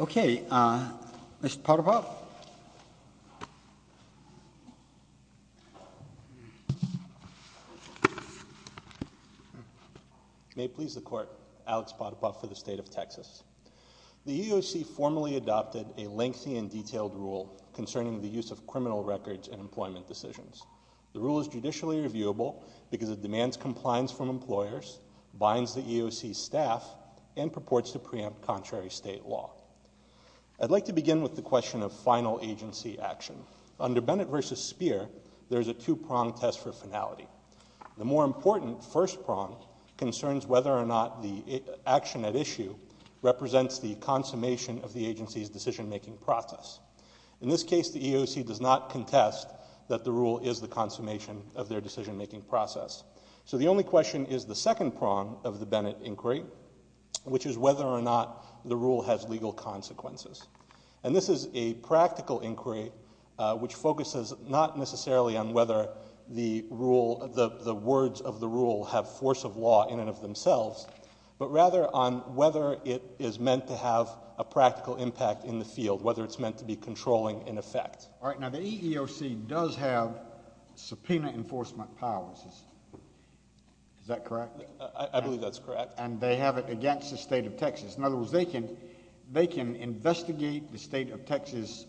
Okay, Mr. Potipoff. May it please the Court, Alex Potipoff for the State of Texas. The EEOC formally adopted a lengthy and detailed rule concerning the use of criminal records in employment decisions. The rule is judicially reviewable because it demands compliance from employers, binds the EEOC staff, and purports to preempt contrary state law. I'd like to begin with the question of final agency action. Under Bennett v. Speer, there's a two-prong test for finality. The more important first prong concerns whether or not the action at issue represents the consummation of the agency's decision-making process. In this case, the EEOC does not contest that the rule is the consummation of their decision-making process. So the only question is the second prong of the Bennett inquiry, which is whether or not the rule has legal consequences. And this is a practical inquiry, which focuses not necessarily on whether the rule, the words of the rule have force of law in and of themselves, but rather on whether it is meant to have a practical impact in the field, whether it's meant to be controlling in effect. All right. Now, the EEOC does have subpoena enforcement powers. Is that correct? I believe that's correct. And they have it against the State of Texas. In other words, they can investigate the State of Texas'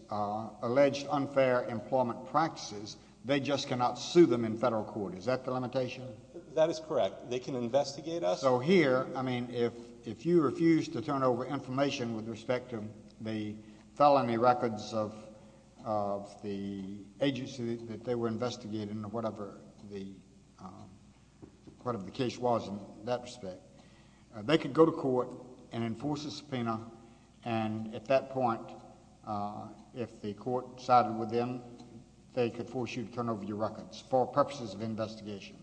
alleged unfair employment practices. They just cannot sue them in federal court. Is that the limitation? That is correct. They can investigate us. So here, I mean, if you refuse to turn over information with respect to the felony records of the agency that they were investigating or whatever the case was in that respect, they could go to court and enforce a subpoena. And at that point, if the court sided with them, they could force you to turn over your records for purposes of investigation.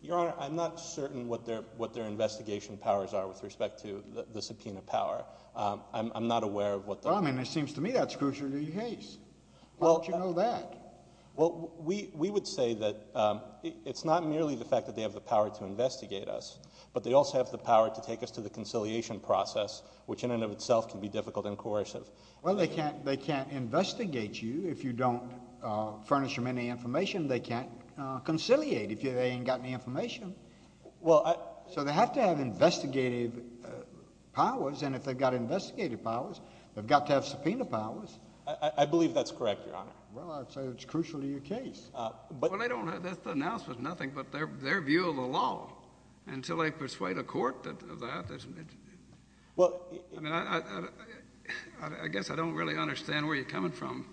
Your Honor, I'm not certain what their investigation powers are with respect to the subpoena power. I'm not aware of what the— Well, I mean, it seems to me that's crucially the case. How would you know that? Well, we would say that it's not merely the fact that they have the power to investigate us, but they also have the power to take us to the conciliation process, which in and of itself can be difficult and coercive. Well, they can't investigate you if you don't furnish them any information. They can't conciliate if they ain't got any information. So they have to have investigative powers. And if they've got investigative powers, they've got to have subpoena powers. I believe that's correct, Your Honor. Well, I'd say that's crucially the case. Well, they don't have—that's the announcement, nothing but their view of the law. Until they persuade a court of that, that's— Well— I mean, I guess I don't really understand where you're coming from.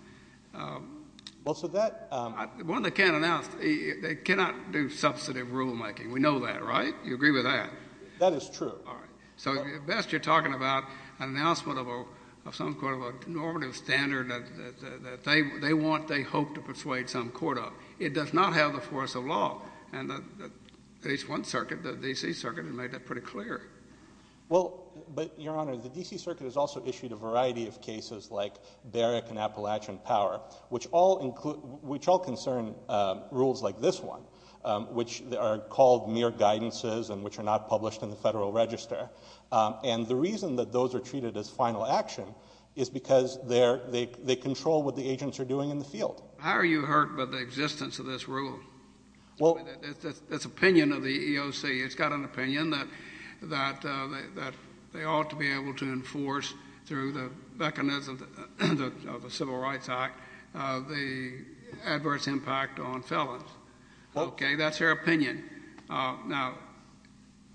Well, so that— The one they can't announce, they cannot do substantive rulemaking. We know that, right? You agree with that? That is true. All right. So at best, you're talking about an announcement of some sort of normative standard that they want, they hope, to persuade some court of. It does not have the force of law. And at least one circuit, the D.C. Circuit, has made that pretty clear. Well, but, Your Honor, the D.C. Circuit has also issued a variety of cases like Barrick and Appalachian Power, which all concern rules like this one, which are called mere guidances and which are not published in the Federal Register. And the reason that those are treated as final action is because they control what the agents are doing in the field. How are you hurt by the existence of this rule, this opinion of the EEOC? It's got an opinion that they ought to be able to enforce through the mechanism of the Civil Rights Act the adverse impact on felons. Okay? That's their opinion. Now,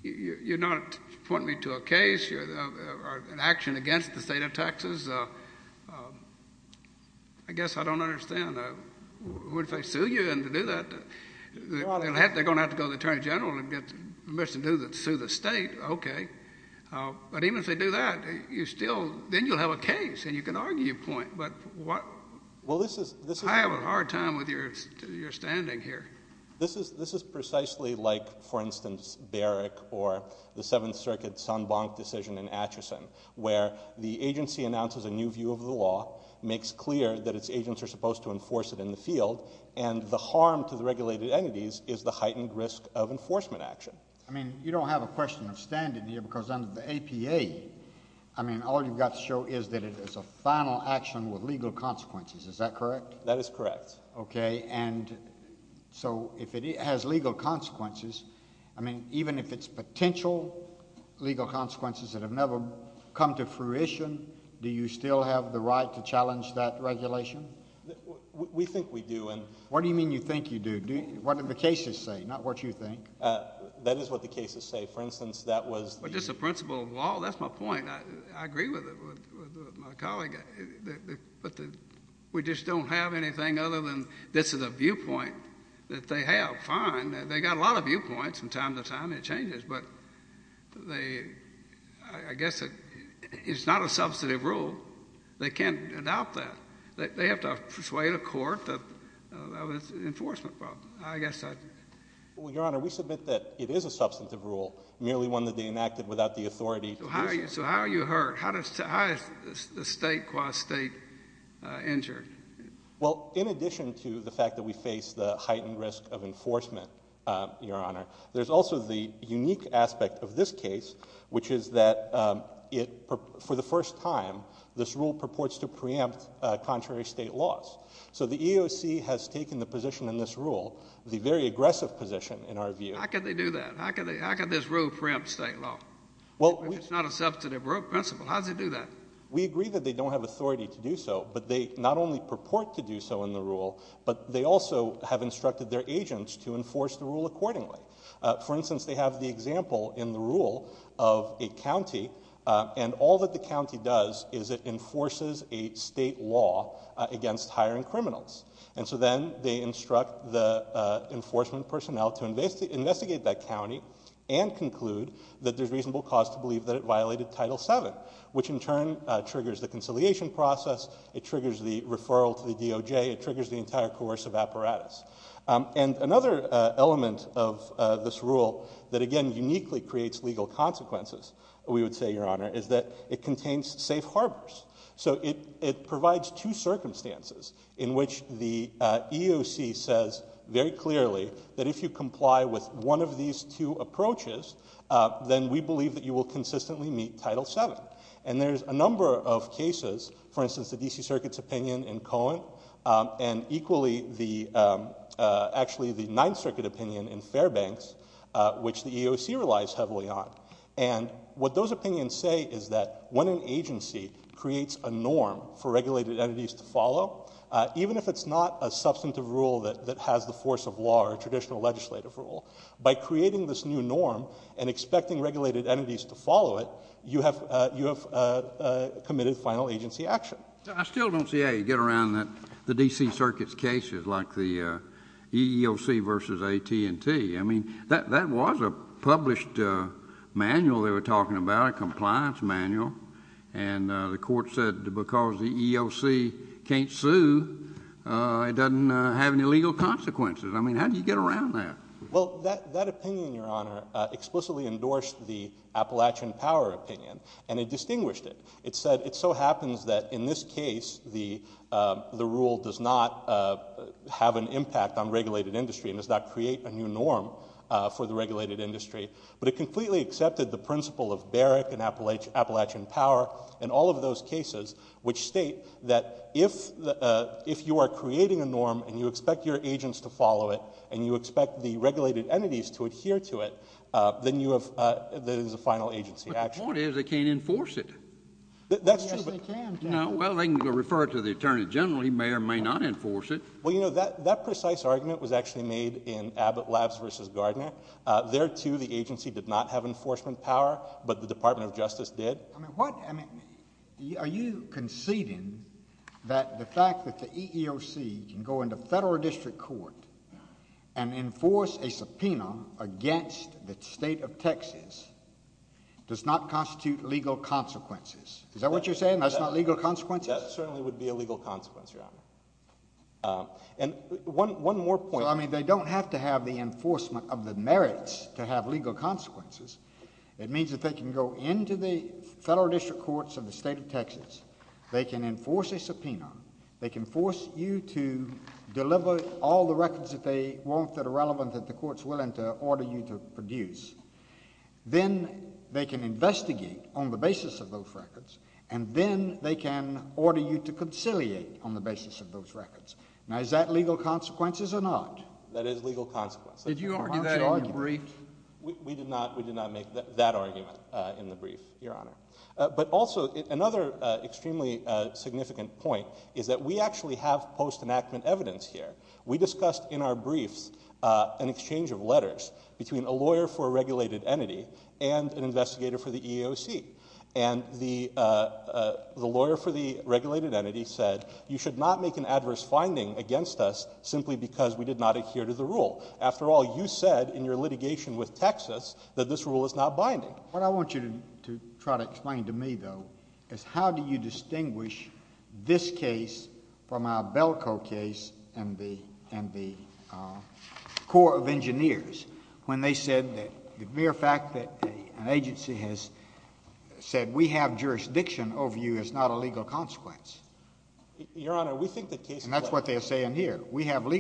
you're not pointing me to a case or an action against the state of Texas. This is, I guess I don't understand, what if they sue you and to do that, they're going to have to go to the Attorney General and get permission to sue the state, okay. But even if they do that, you still, then you'll have a case and you can argue your point. But what? I have a hard time with your standing here. This is precisely like, for instance, Barrick or the Seventh Circuit San Blanc decision in Atchison, where the agency announces a new view of the law, makes clear that its agents are supposed to enforce it in the field, and the harm to the regulated entities is the heightened risk of enforcement action. I mean, you don't have a question of standing here because under the APA, I mean, all you've got to show is that it is a final action with legal consequences. Is that correct? That is correct. Okay. And so if it has legal consequences, I mean, even if it's potential legal consequences that have never come to fruition, do you still have the right to challenge that regulation? We think we do. What do you mean you think you do? What do the cases say, not what you think? That is what the cases say. For instance, that was the— Well, just the principle of law, that's my point. I agree with it, with my colleague. But we just don't have anything other than this is a viewpoint that they have. Fine. They've got a lot of viewpoints, and time to time it changes. But they—I guess it's not a substantive rule. They can't adopt that. They have to persuade a court that that was an enforcement problem. I guess I— Well, Your Honor, we submit that it is a substantive rule, merely one that they enacted without the authority— So how are you hurt? How is the state, quasi-state, injured? Well, in addition to the fact that we face the heightened risk of enforcement, Your Honor, there's also the unique aspect of this case, which is that it—for the first time, this rule purports to preempt contrary state laws. So the EEOC has taken the position in this rule, the very aggressive position, in our view— How could they do that? How could this rule preempt state law? Well, we— If it's not a substantive rule principle, how does it do that? We agree that they don't have authority to do so, but they not only purport to do so in the rule, but they also have instructed their agents to enforce the rule accordingly. For instance, they have the example in the rule of a county, and all that the county does is it enforces a state law against hiring criminals. And so then they instruct the enforcement personnel to investigate that county and conclude that there's reasonable cause to believe that it violated Title VII, which in turn triggers the conciliation process. It triggers the referral to the DOJ. It triggers the entire coercive apparatus. And another element of this rule that, again, uniquely creates legal consequences, we would say, Your Honor, is that it contains safe harbors. So it provides two circumstances in which the EEOC says very clearly that if you comply with one of these two approaches, then we believe that you will consistently meet Title VII. And there's a number of cases, for instance, the D.C. Circuit's opinion in Cohen, and equally actually the Ninth Circuit opinion in Fairbanks, which the EEOC relies heavily on. And what those opinions say is that when an agency creates a norm for regulated entities to follow, even if it's not a substantive rule that has the force of law or traditional legislative rule, by creating this new norm and expecting regulated entities to follow it, you have committed final agency action. JUSTICE KENNEDY I still don't see how you get around the D.C. Circuit's cases like the EEOC v. AT&T. I mean, that was a published manual they were talking about, a compliance manual. And the Court said because the EEOC can't sue, it doesn't have any legal consequences. I mean, how do you get around that? MR. And it distinguished it. It said it so happens that in this case, the rule does not have an impact on regulated industry and does not create a new norm for the regulated industry. But it completely accepted the principle of Barrick and Appalachian Power and all of those cases which state that if you are creating a norm and you expect your agents to follow it and you expect the regulated entities to adhere to it, then there is a final agency JUSTICE KENNEDY But the point is, they can't enforce it. MR. ANDERSON Yes, they can. JUSTICE KENNEDY Well, they can refer it to the Attorney General. He may or may not enforce it. MR. ANDERSON Well, you know, that precise argument was actually made in Abbott Labs v. Gardner. There too, the agency did not have enforcement power, but the Department of Justice did. JUSTICE KENNEDY Are you conceding that the fact that the agency can go in and enforce a subpoena against the State of Texas does not constitute legal consequences? Is that what you're saying? That's not legal consequences? MR. ANDERSON That certainly would be a legal consequence, Your Honor. And one more point. JUSTICE KENNEDY So, I mean, they don't have to have the enforcement of the merits to have legal consequences. It means that they can go into the Federal District Courts of the State of Texas. They can enforce a subpoena. They can force you to deliver all the records that they want that are relevant that the courts are willing to order you to produce. Then they can investigate on the basis of those records, and then they can order you to conciliate on the basis of those records. Now, is that legal consequences or not? ANDERSON That is legal consequences. JUSTICE KENNEDY Did you argue that in your brief? MR. ANDERSON We did not make that argument in the brief, Your Honor. But also, another extremely significant point is that we actually have post-enactment evidence here. We discussed in our briefs an exchange of letters between a lawyer for a regulated entity and an investigator for the EEOC. And the lawyer for the regulated entity said, you should not make an adverse finding against us simply because we did not adhere to the rule. After all, you said in your litigation with Texas that this rule is not binding. What I want you to try to explain to me, though, is how do you distinguish this case from our Belco case and the Court of Engineers when they said that the mere fact that an agency has said we have jurisdiction over you is not a legal consequence? MR. ANDERSON Your Honor, we think the case is not. JUSTICE KENNEDY And that's what they are saying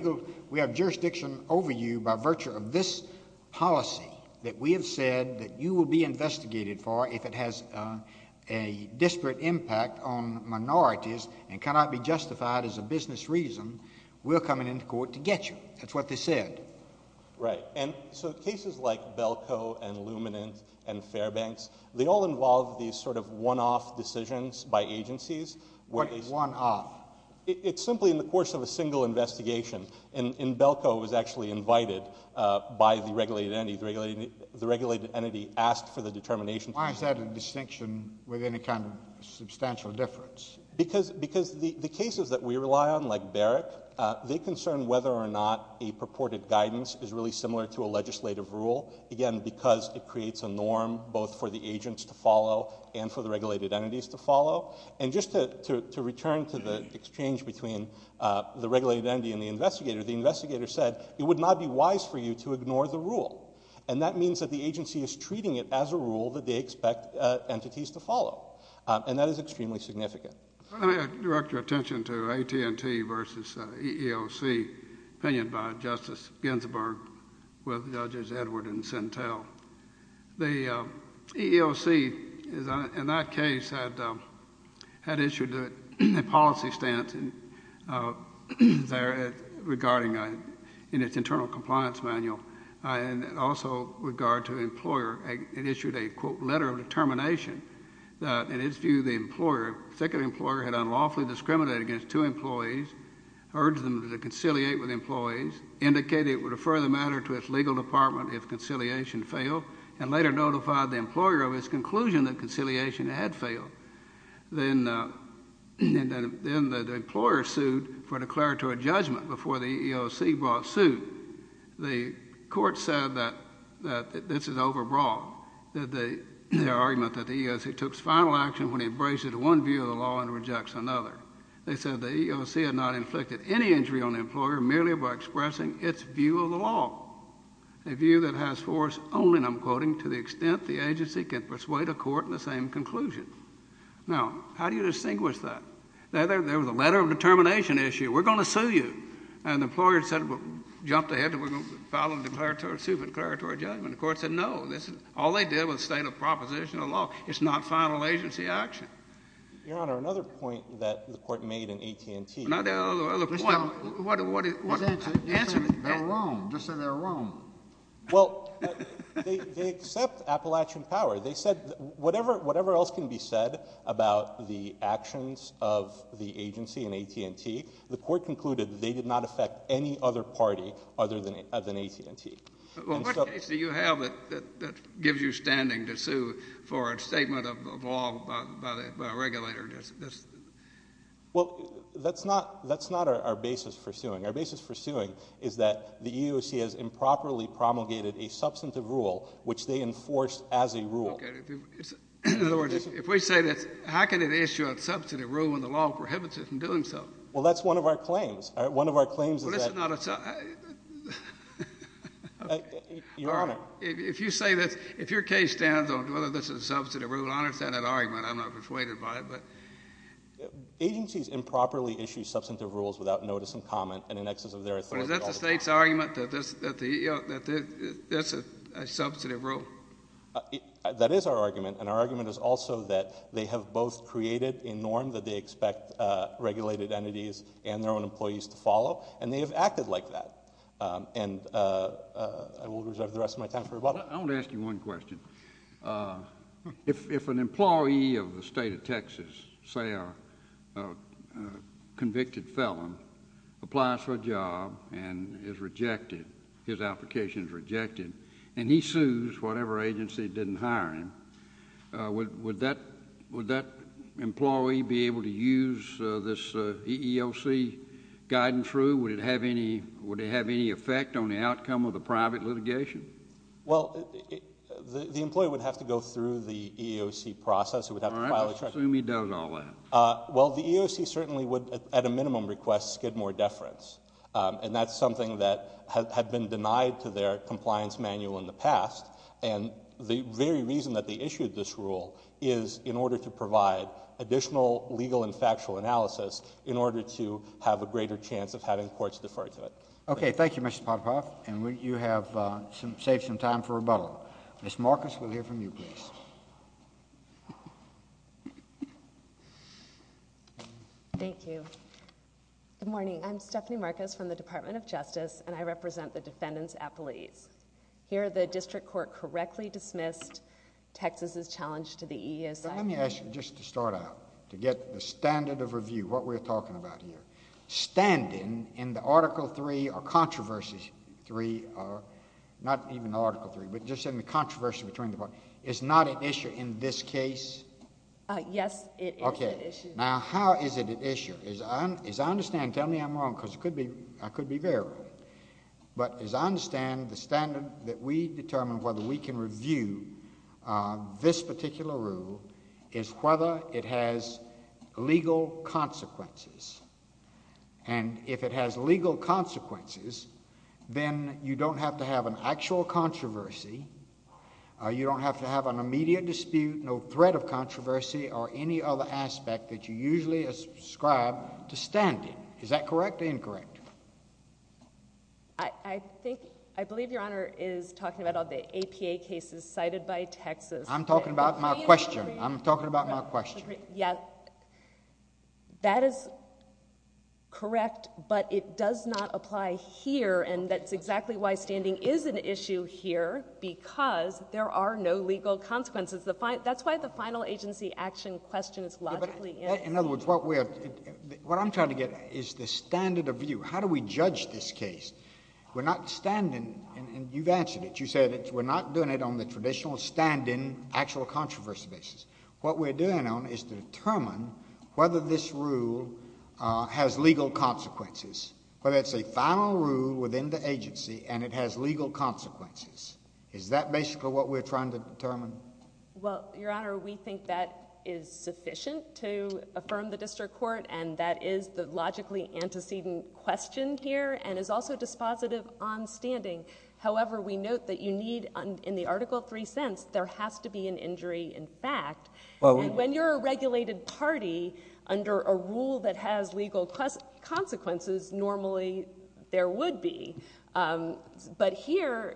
here. We have jurisdiction over you by virtue of this policy that we have said that you will be investigated for if it has a disparate impact on minorities and cannot be justified as a business reason, we're coming into court to get you. That's what they said. MR. ANDERSON Right. And so cases like Belco and Luminance and Fairbanks, they all involve these sort of one-off decisions by agencies. JUSTICE KENNEDY What is one-off? MR. ANDERSON It's simply in the course of a single investigation. In Belco, it was actually invited by the regulated entity. The regulated entity asked for the determination. JUSTICE KENNEDY Why is that a distinction with any kind of substantial difference? MR. ANDERSON Because the cases that we rely on, like Barrick, they concern whether or not a purported guidance is really similar to a legislative rule, again, because it creates a norm both for the agents to follow and for the regulated entities to follow. And just to return to the exchange between the regulated entity and the investigator, the investigator said, it would not be wise for you to ignore the rule. And that means that the agency is treating it as a rule that they expect entities to follow. And that is extremely significant. JUSTICE KENNEDY Let me direct your attention to AT&T versus EEOC, opinioned by Justice Ginsburg with Judges Edward and Sentel. The EEOC, in that case, had issued a policy stance there regarding in its internal compliance manual, and also with regard to employer, it issued a, quote, letter of determination that, in its view, the employer, second employer, had unlawfully discriminated against two employees, urged them to conciliate with employees, indicated it would refer the matter to its legal department if conciliation failed, and later notified the employer of its conclusion that conciliation had failed. Then the employer sued for declaratory judgment before the EEOC brought suit. The Court said that this is overbroad, that the argument that the EEOC took final action when it embraced one view of the law and rejects another. They said the EEOC had not inflicted any injury on the employer merely by expressing its view of the law. A view that has force only, and I'm quoting, to the extent the agency can persuade a court in the same conclusion. Now, how do you distinguish that? There was a letter of determination issue. We're going to sue you. And the employer said, jumped ahead, we're going to file a declaratory, sue for declaratory judgment. The Court said no. This is all they did was state a proposition of law. It's not final agency action. Your Honor, another point that the Court made in AT&T. Not the other point. What is it? Answer me. They're wrong. Just say they're wrong. Well, they accept Appalachian power. They said whatever else can be said about the actions of the agency in AT&T, the Court concluded they did not affect any other party other than AT&T. Well, what case do you have that gives you standing to sue for a statement of law by a regulator? Well, that's not our basis for suing. Our basis for suing is that the EEOC has improperly promulgated a substantive rule, which they enforced as a rule. Okay. In other words, if we say this, how can it issue a substantive rule when the law prohibits it from doing so? Well, that's one of our claims. One of our claims is that... Well, this is not a... Your Honor. If you say this, if your case stands on whether this is a substantive rule, I understand that argument. I'm not persuaded by it, but... Agencies improperly issue substantive rules without notice and comment, and in excess of their authority... But is that the State's argument that that's a substantive rule? That is our argument, and our argument is also that they have both created a norm that they expect regulated entities and their own employees to follow, and they have acted like that. And I will reserve the rest of my time for rebuttal. I want to ask you one question. If an employee of the State of Texas, say a convicted felon, applies for a job and is rejected, his application is rejected, and he sues whatever agency didn't hire him, would that employee be able to use this EEOC guidance rule? Would it have any effect on the outcome of the private litigation? Well, the employee would have to go through the EEOC process. I assume he does all that. Well, the EEOC certainly would, at a minimum, request skidmore deference, and that's something that had been denied to their compliance manual in the past, and the very reason that they issued this rule is in order to provide additional legal and factual analysis in order to have a greater chance of having courts defer to it. Okay. Thank you, Mr. Potapoff. And you have saved some time for rebuttal. Ms. Marcus, we'll hear from you, please. Thank you. Good morning. I'm Stephanie Marcus from the Department of Justice, and I represent the defendants at police. Here, the district court correctly dismissed Texas's challenge to the EEOC. Let me ask you just to start out, to get the standard of review, what we're talking about here. The standard standing in the Article 3 or Controversy 3, not even Article 3, but just in the Controversy between the parties, is not at issue in this case? Yes, it is at issue. Okay. Now, how is it at issue? As I understand, tell me I'm wrong, because I could be very wrong, but as I understand, the standard that we determine whether we can review this particular rule is whether it has legal consequences. And if it has legal consequences, then you don't have to have an actual controversy, you don't have to have an immediate dispute, no threat of controversy, or any other aspect that you usually ascribe to standing. Is that correct or incorrect? I think, I believe Your Honor is talking about all the APA cases cited by Texas. I'm talking about my question. I'm talking about my question. Yeah. That is correct, but it does not apply here, and that's exactly why standing is an issue here, because there are no legal consequences. That's why the final agency action question is logically... In other words, what I'm trying to get is the standard of view. How do we judge this case? We're not standing, and you've answered it, you said it, we're not doing it on the traditional standing, actual controversy basis. What we're doing on is to determine whether this rule has legal consequences, whether it's a final rule within the agency, and it has legal consequences. Is that basically what we're trying to determine? Well, Your Honor, we think that is sufficient to affirm the district court, and that is the logically antecedent question here, and is also dispositive on standing. However, we note that you need, in the Article 3 sense, there has to be an injury in fact. When you're a regulated party, under a rule that has legal consequences, normally there would be, but here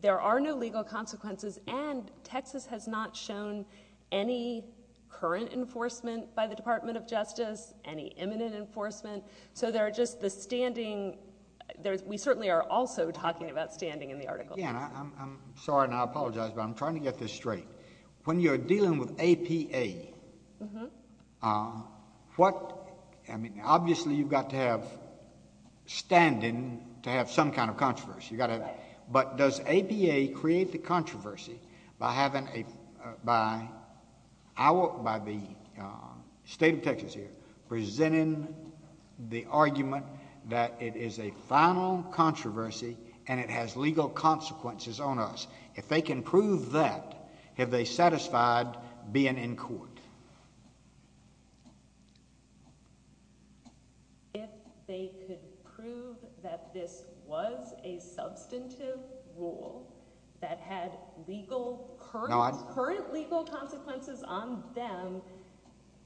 there are no legal consequences, and Texas has not shown any current enforcement by the Department of Justice, any imminent enforcement, so there are just the standing... We certainly are also talking about standing in the Article 3. Again, I'm sorry and I apologize, but I'm trying to get this straight. When you're dealing with APA, obviously you've got to have standing to have some kind of controversy, but does APA create the controversy by the state of Texas here presenting the wrong controversy, and it has legal consequences on us? If they can prove that, have they satisfied being in court? If they could prove that this was a substantive rule that had legal... No, I...... current legal consequences on them,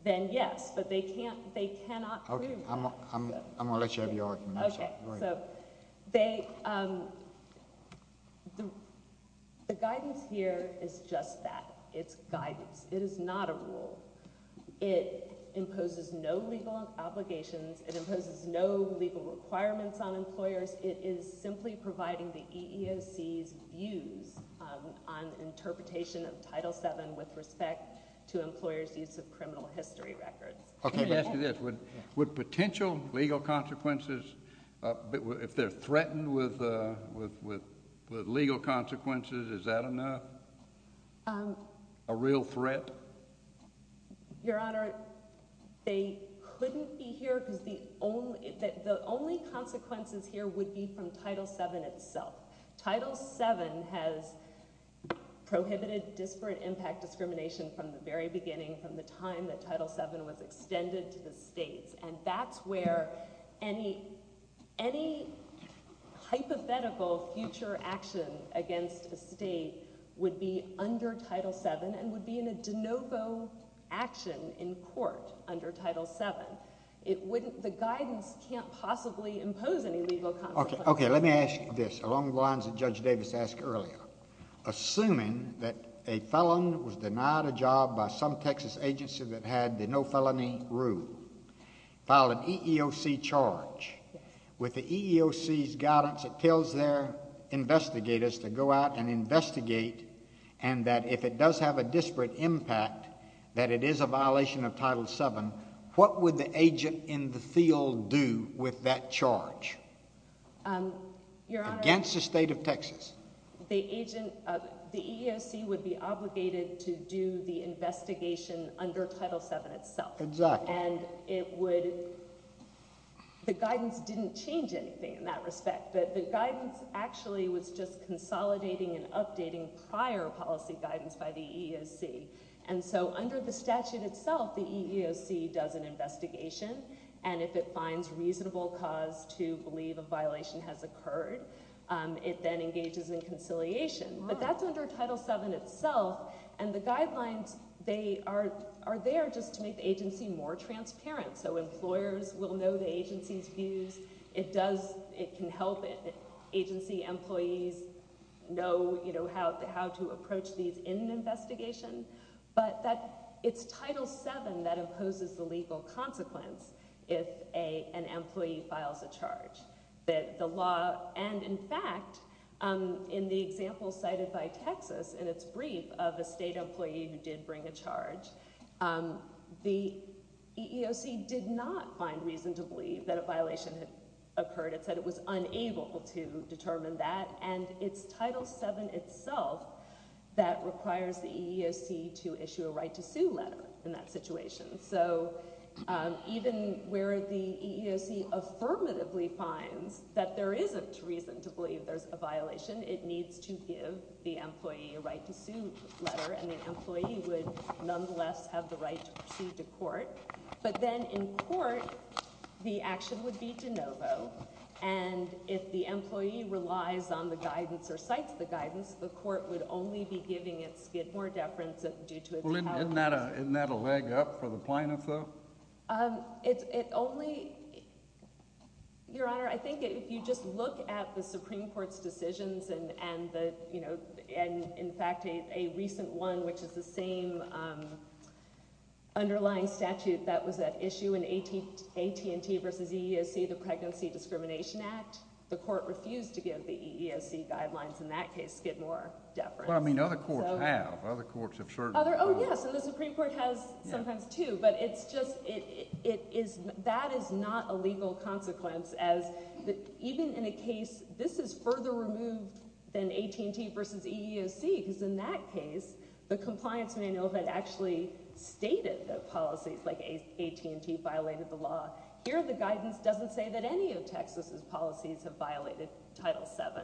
then yes, but they can't... they cannot prove that. Okay. I'm going to let you have your argument. I'm sorry. Okay. So they... the guidance here is just that. It's guidance. It is not a rule. It imposes no legal obligations. It imposes no legal requirements on employers. It is simply providing the EEOC's views on interpretation of Title 7 with respect to employers' use of criminal history records. Okay. Let me ask you this. Would potential legal consequences, if they're threatened with legal consequences, is that enough, a real threat? Your Honor, they couldn't be here because the only consequences here would be from Title 7 itself. Title 7 has prohibited disparate impact discrimination from the very beginning, from the time that it was extended to the states, and that's where any hypothetical future action against a state would be under Title 7 and would be in a de novo action in court under Title 7. It wouldn't... the guidance can't possibly impose any legal consequences. Okay. Let me ask you this, along the lines that Judge Davis asked earlier. Assuming that a felon was denied a job by some Texas agency that had the no felony rule, filed an EEOC charge, with the EEOC's guidance, it tells their investigators to go out and investigate, and that if it does have a disparate impact, that it is a violation of Title 7, what would the agent in the field do with that charge against the state of Texas? The EEOC would be obligated to do the investigation under Title 7 itself. Exactly. And it would... the guidance didn't change anything in that respect. The guidance actually was just consolidating and updating prior policy guidance by the EEOC, and so under the statute itself, the EEOC does an investigation, and if it finds reasonable cause to believe a violation has occurred, it then engages in conciliation. But that's under Title 7 itself, and the guidelines, they are there just to make the agency more transparent, so employers will know the agency's views. It does... it can help agency employees know how to approach these in an investigation, but it's Title 7 that imposes the legal consequence if an employee files a charge. The law... and in fact, in the example cited by Texas in its brief of a state employee who did bring a charge, the EEOC did not find reason to believe that a violation had occurred. It said it was unable to determine that, and it's Title 7 itself that requires the EEOC to issue a right-to-sue letter in that situation. So, even where the EEOC affirmatively finds that there isn't reason to believe there's a violation, it needs to give the employee a right-to-sue letter, and the employee would nonetheless have the right to proceed to court. But then in court, the action would be de novo, and if the employee relies on the guidance or cites the guidance, the court would only be giving it more deference due to... Isn't that a leg up for the plaintiff, though? It only... Your Honor, I think if you just look at the Supreme Court's decisions and, you know, in fact, a recent one which is the same underlying statute that was at issue in AT&T versus EEOC, the Pregnancy Discrimination Act, the court refused to give the EEOC guidelines in that case to get more deference. Well, I mean, other courts have. Other courts have certain... Oh, yes, and the Supreme Court has sometimes, too, but it's just... it is... that is not a legal consequence, as even in a case... this is further removed than AT&T versus EEOC, because in that case, the compliance manual had actually stated that policies like AT&T violated the law. Here, the guidance doesn't say that any of Texas's policies have violated Title 7.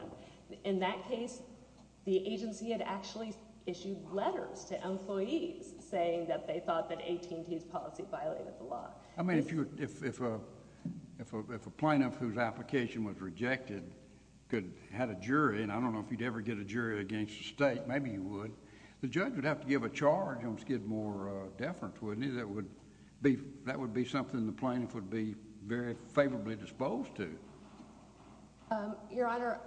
In that case, the agency had actually issued letters to employees saying that they thought that AT&T's policy violated the law. I mean, if a plaintiff whose application was rejected had a jury, and I don't know if you'd ever get a jury against a state, maybe you would, the judge would have to give a charge on skid more deference, wouldn't he? That would be something the plaintiff would be very favorably disposed to. Your Honor,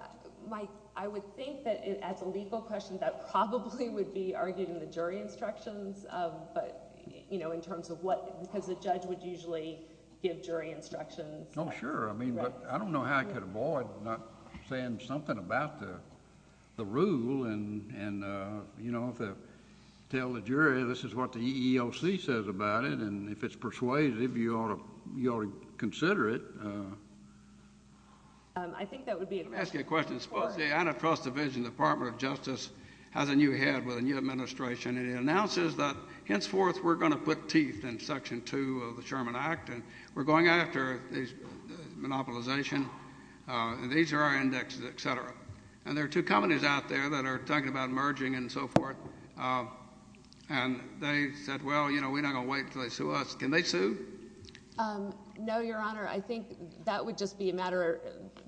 my... I would think that as a legal question, that probably would be argued in the jury instructions, but, you know, in terms of what... because the judge would usually give jury instructions. Oh, sure. I mean, but I don't know how I could avoid not saying something about the rule and, you know, if I tell the jury this is what the EEOC says about it, and if it's persuaded, if you ought to consider it, I think that would be... Let me ask you a question. Suppose the antitrust division, Department of Justice, has a new head with a new administration, and it announces that henceforth we're going to put teeth in Section 2 of the Sherman Act, and we're going after monopolization, and these are our indexes, et cetera. And there are two companies out there that are talking about merging and so forth, and they said, well, you know, we're not going to wait until they sue us. Can they sue? No, Your Honor. I think that would just be a matter...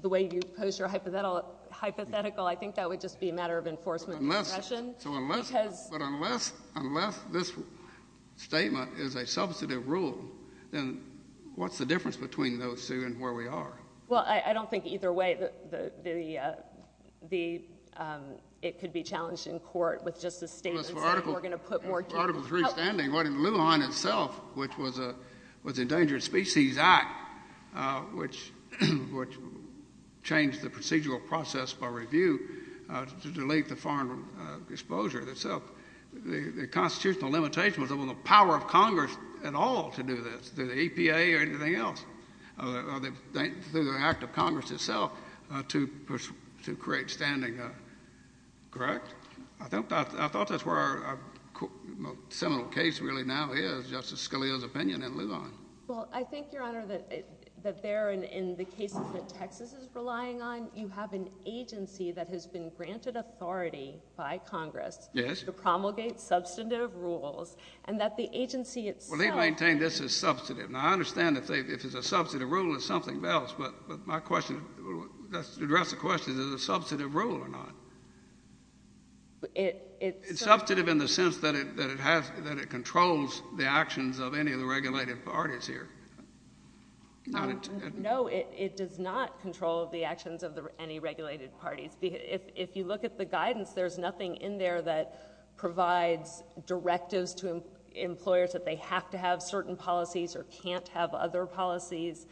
the way you pose your hypothetical, I think that would just be a matter of enforcement of discretion. So unless... Because... But unless... unless this statement is a substantive rule, then what's the difference between no sue and where we are? Well, I don't think either way the... it could be challenged in court with just a statement Well, regardless of Article...... and say we're going to put more teeth... Article 3 standing, what in Lujan itself, which was an Endangered Species Act, which changed the procedural process by review to delete the foreign exposure itself, the constitutional limitation was on the power of Congress at all to do this, through the EPA or anything else, or through the act of Congress itself to create standing. Correct? I thought that's where our seminal case really now is, Justice Scalia's opinion in Lujan. Well, I think, Your Honor, that there in the cases that Texas is relying on, you have an agency that has been granted authority by Congress... Yes.... to promulgate substantive rules, and that the agency itself... Well, they maintain this is substantive. Now, I understand if it's a substantive rule, it's something else, but my question... to address the question, is it a substantive rule or not? It's substantive in the sense that it controls the actions of any of the regulated parties here. No, it does not control the actions of any regulated parties. If you look at the guidance, there's nothing in there that provides directives to employers that they have to have certain policies or can't have other policies.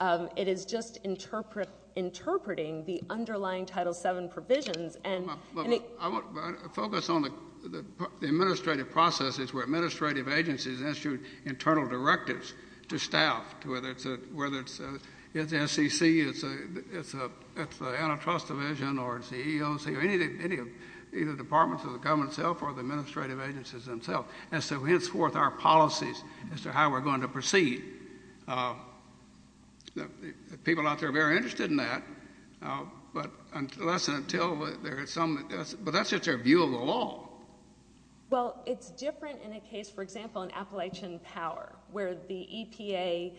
It is just interpreting the underlying Title VII provisions, and... I want to focus on the administrative processes where administrative agencies issue internal directives to staff, whether it's the SEC, it's the Antitrust Division, or it's the EEOC, or any of the departments of the government itself or the administrative agencies themselves, and so henceforth our policies as to how we're going to proceed. The people out there are very interested in that, but that's just their view of the law. Well, it's different in a case, for example, in Appalachian Power, where the EPA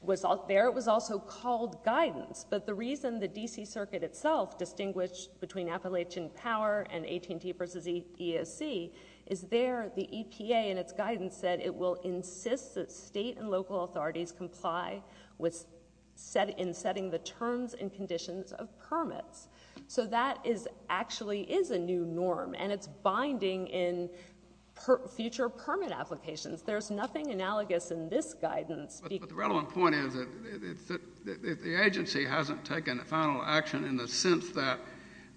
was there. It was also called guidance, but the reason the D.C. Circuit itself distinguished between the EPA and its guidance said it will insist that state and local authorities comply in setting the terms and conditions of permits. So, that actually is a new norm, and it's binding in future permit applications. There's nothing analogous in this guidance. But the relevant point is that the agency hasn't taken a final action in the sense that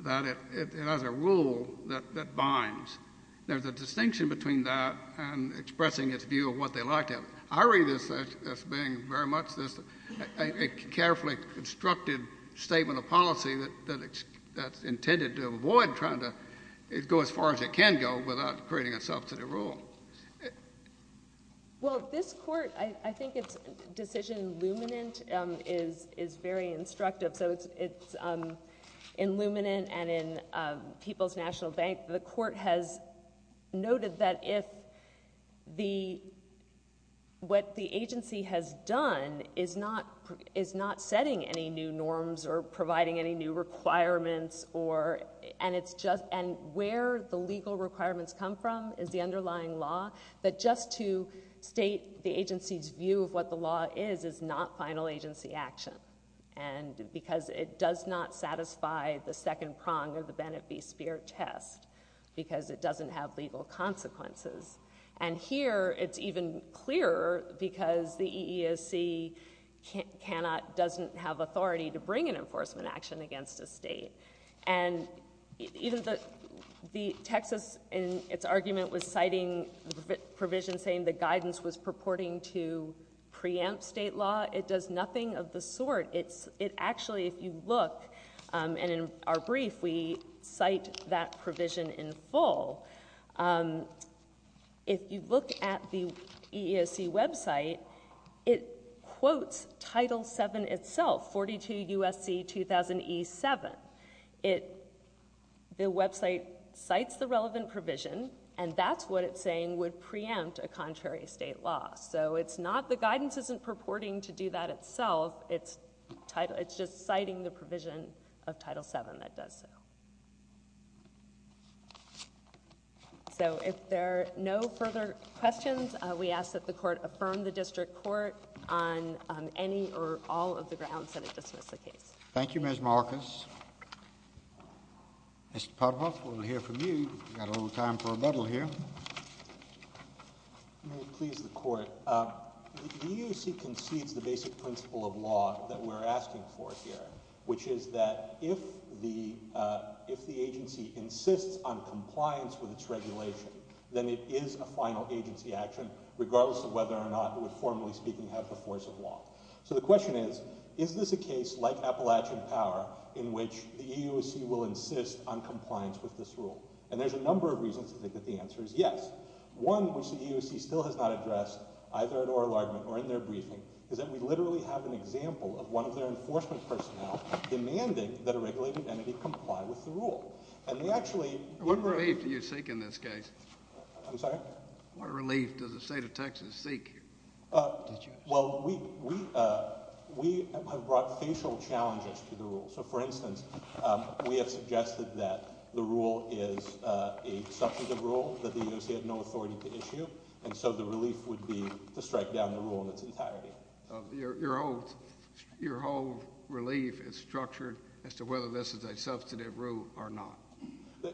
it has a rule that binds. There's a distinction between that and expressing its view of what they like to have. I read this as being very much a carefully constructed statement of policy that's intended to avoid trying to go as far as it can go without creating a subsidy rule. Well, this Court, I think its decision in Luminant is very instructive. In Luminant and in People's National Bank, the Court has noted that what the agency has done is not setting any new norms or providing any new requirements, and where the legal requirements come from is the underlying law, but just to state the agency's view of what the law is, is not final agency action, and because it does not satisfy the second prong of the Bennett v. Speer test, because it doesn't have legal consequences. And here, it's even clearer because the EEOC cannot, doesn't have authority to bring an enforcement action against a state. And even the Texas, in its argument, was citing the provision saying the guidance was purporting to preempt state law. It does nothing of the sort. It's, it actually, if you look, and in our brief, we cite that provision in full. If you look at the EEOC website, it quotes Title VII itself, 42 U.S.C. 2000E7. It, the website cites the relevant provision, and that's what it's saying would preempt a contrary state law. So, it's not, the guidance isn't purporting to do that itself. It's, it's just citing the provision of Title VII that does so. So, if there are no further questions, we ask that the Court affirm the District Court on any or all of the grounds that it dismiss the case. Thank you, Ms. Marcus. Mr. Parva, we're going to hear from you. We've got a little time for rebuttal here. May it please the Court, the EEOC concedes the basic principle of law that we're asking for here, which is that if the, if the agency insists on compliance with its regulation, then it is a final agency action, regardless of whether or not it would, formally speaking, have the force of law. So, the question is, is this a case, like Appalachian Power, in which the EEOC will insist on compliance with this rule? And there's a number of reasons to think that the answer is yes. One, which the EEOC still has not addressed, either at oral argument or in their briefing, is that we literally have an example of one of their enforcement personnel demanding that a regulated entity comply with the rule. And they actually... What relief do you seek in this case? I'm sorry? What relief does the state of Texas seek here? Well, we have brought facial challenges to the rule. So, for instance, we have suggested that the rule is a substantive rule that the EEOC had no authority to issue, and so the relief would be to strike down the rule in its entirety. Your whole relief is structured as to whether this is a substantive rule or not.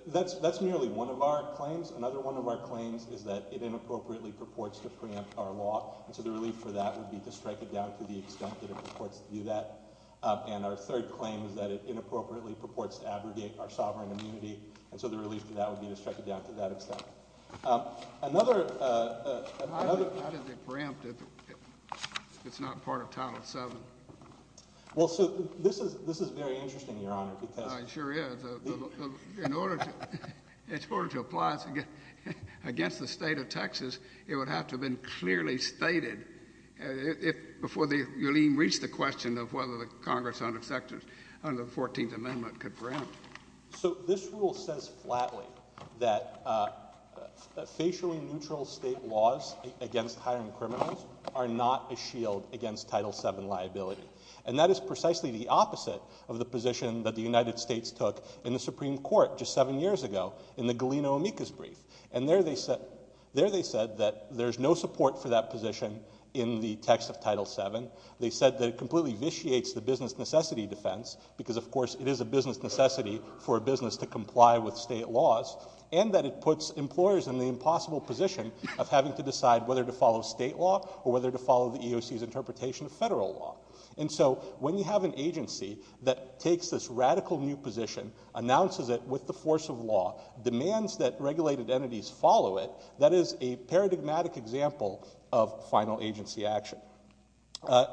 That's merely one of our claims. Another one of our claims is that it inappropriately purports to preempt our law. And so the relief for that would be to strike it down to the extent that it purports to do that. And our third claim is that it inappropriately purports to abrogate our sovereign immunity. And so the relief for that would be to strike it down to that extent. Another... How does it preempt if it's not part of Title VII? Well, so this is very interesting, Your Honor, because... It sure is. In order to apply it against the state of Texas, it would have to have been clearly stated before you'll even reach the question of whether the Congress under the 14th Amendment could preempt it. So this rule says flatly that facially neutral state laws against hiring criminals are not a shield against Title VII liability. And that is precisely the opposite of the position that the United States took in the Supreme Court just seven years ago in the Galeno-Amicus brief. And there they said that there's no support for that position in the text of Title VII. They said that it completely vitiates the business necessity defense because, of course, it is a business necessity for a business to comply with state laws. And that it puts employers in the impossible position of having to decide whether to follow state law or whether to follow the EOC's interpretation of federal law. And so when you have an agency that takes this radical new position, announces it with the force of law, demands that regulated entities follow it, that is a paradigmatic example of final agency action.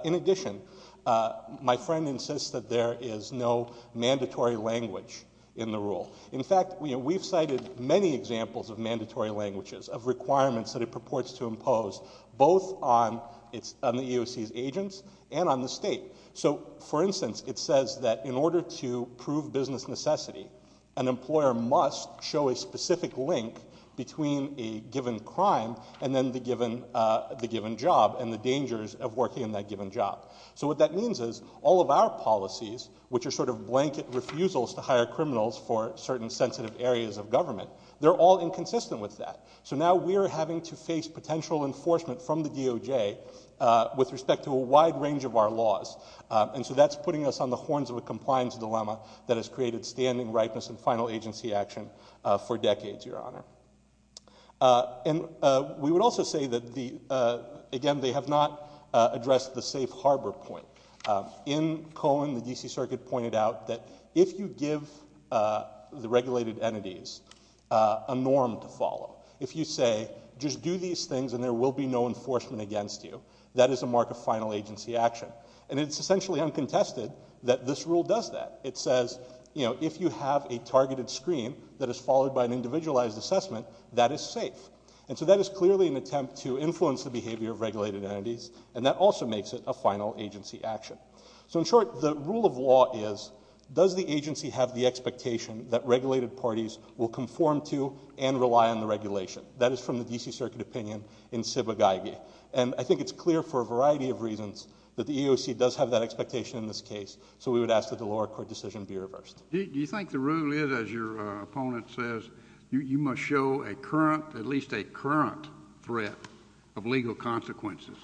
In addition, my friend insists that there is no mandatory language in the rule. In fact, we've cited many examples of mandatory languages, of requirements that it purports to impose both on the EOC's agents and on the state. So, for instance, it says that in order to prove business necessity, an employer must show a specific link between a given crime and then the given job and the dangers of working in that given job. So what that means is all of our policies, which are sort of blanket refusals to hire criminals for certain sensitive areas of government, they're all inconsistent with that. So now we're having to face potential enforcement from the DOJ with respect to a wide range of our laws. And so that's putting us on the horns of a compliance dilemma that has created standing ripeness and final agency action for decades, Your Honor. And we would also say that, again, they have not addressed the safe harbor point. In Cohen, the DC Circuit pointed out that if you give the regulated entities a norm to follow, if you say, just do these things and there will be no enforcement against you, that is a mark of final agency action. And it's essentially uncontested that this rule does that. It says, you know, if you have a targeted screen that is followed by an individualized assessment, that is safe. And so that is clearly an attempt to influence the behavior of regulated entities and that also makes it a final agency action. So, in short, the rule of law is, does the agency have the expectation that regulated parties will conform to and rely on the regulation? That is from the DC Circuit opinion in Sibba-Geigy. And I think it's clear for a variety of reasons that the EEOC does have that expectation in this case. So we would ask that the lower court decision be reversed. Do you think the rule is, as your opponent says, you must show a current, at least a current threat of legal consequences?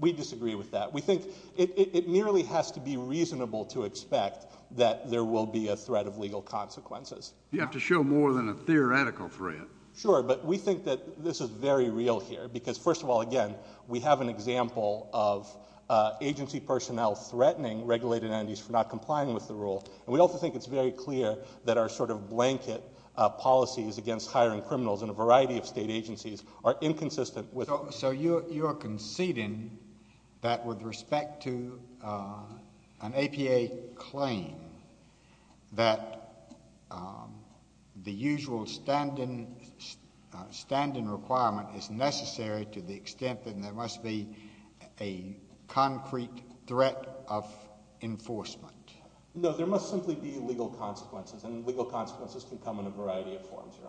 We disagree with that. We think it merely has to be reasonable to expect that there will be a threat of legal consequences. You have to show more than a theoretical threat. Sure, but we think that this is very real here. Because, first of all, again, we have an example of agency personnel threatening regulated entities for not complying with the rule. And we also think it's very clear that our sort of blanket policies against hiring criminals in a variety of state agencies are inconsistent with... So you're conceding that with respect to an APA claim that the usual stand-in requirement is necessary to the extent that there must be a concrete threat of enforcement? No, there must simply be legal consequences. And legal consequences can come in a variety of forms, Your Honor. Okay. Thank you.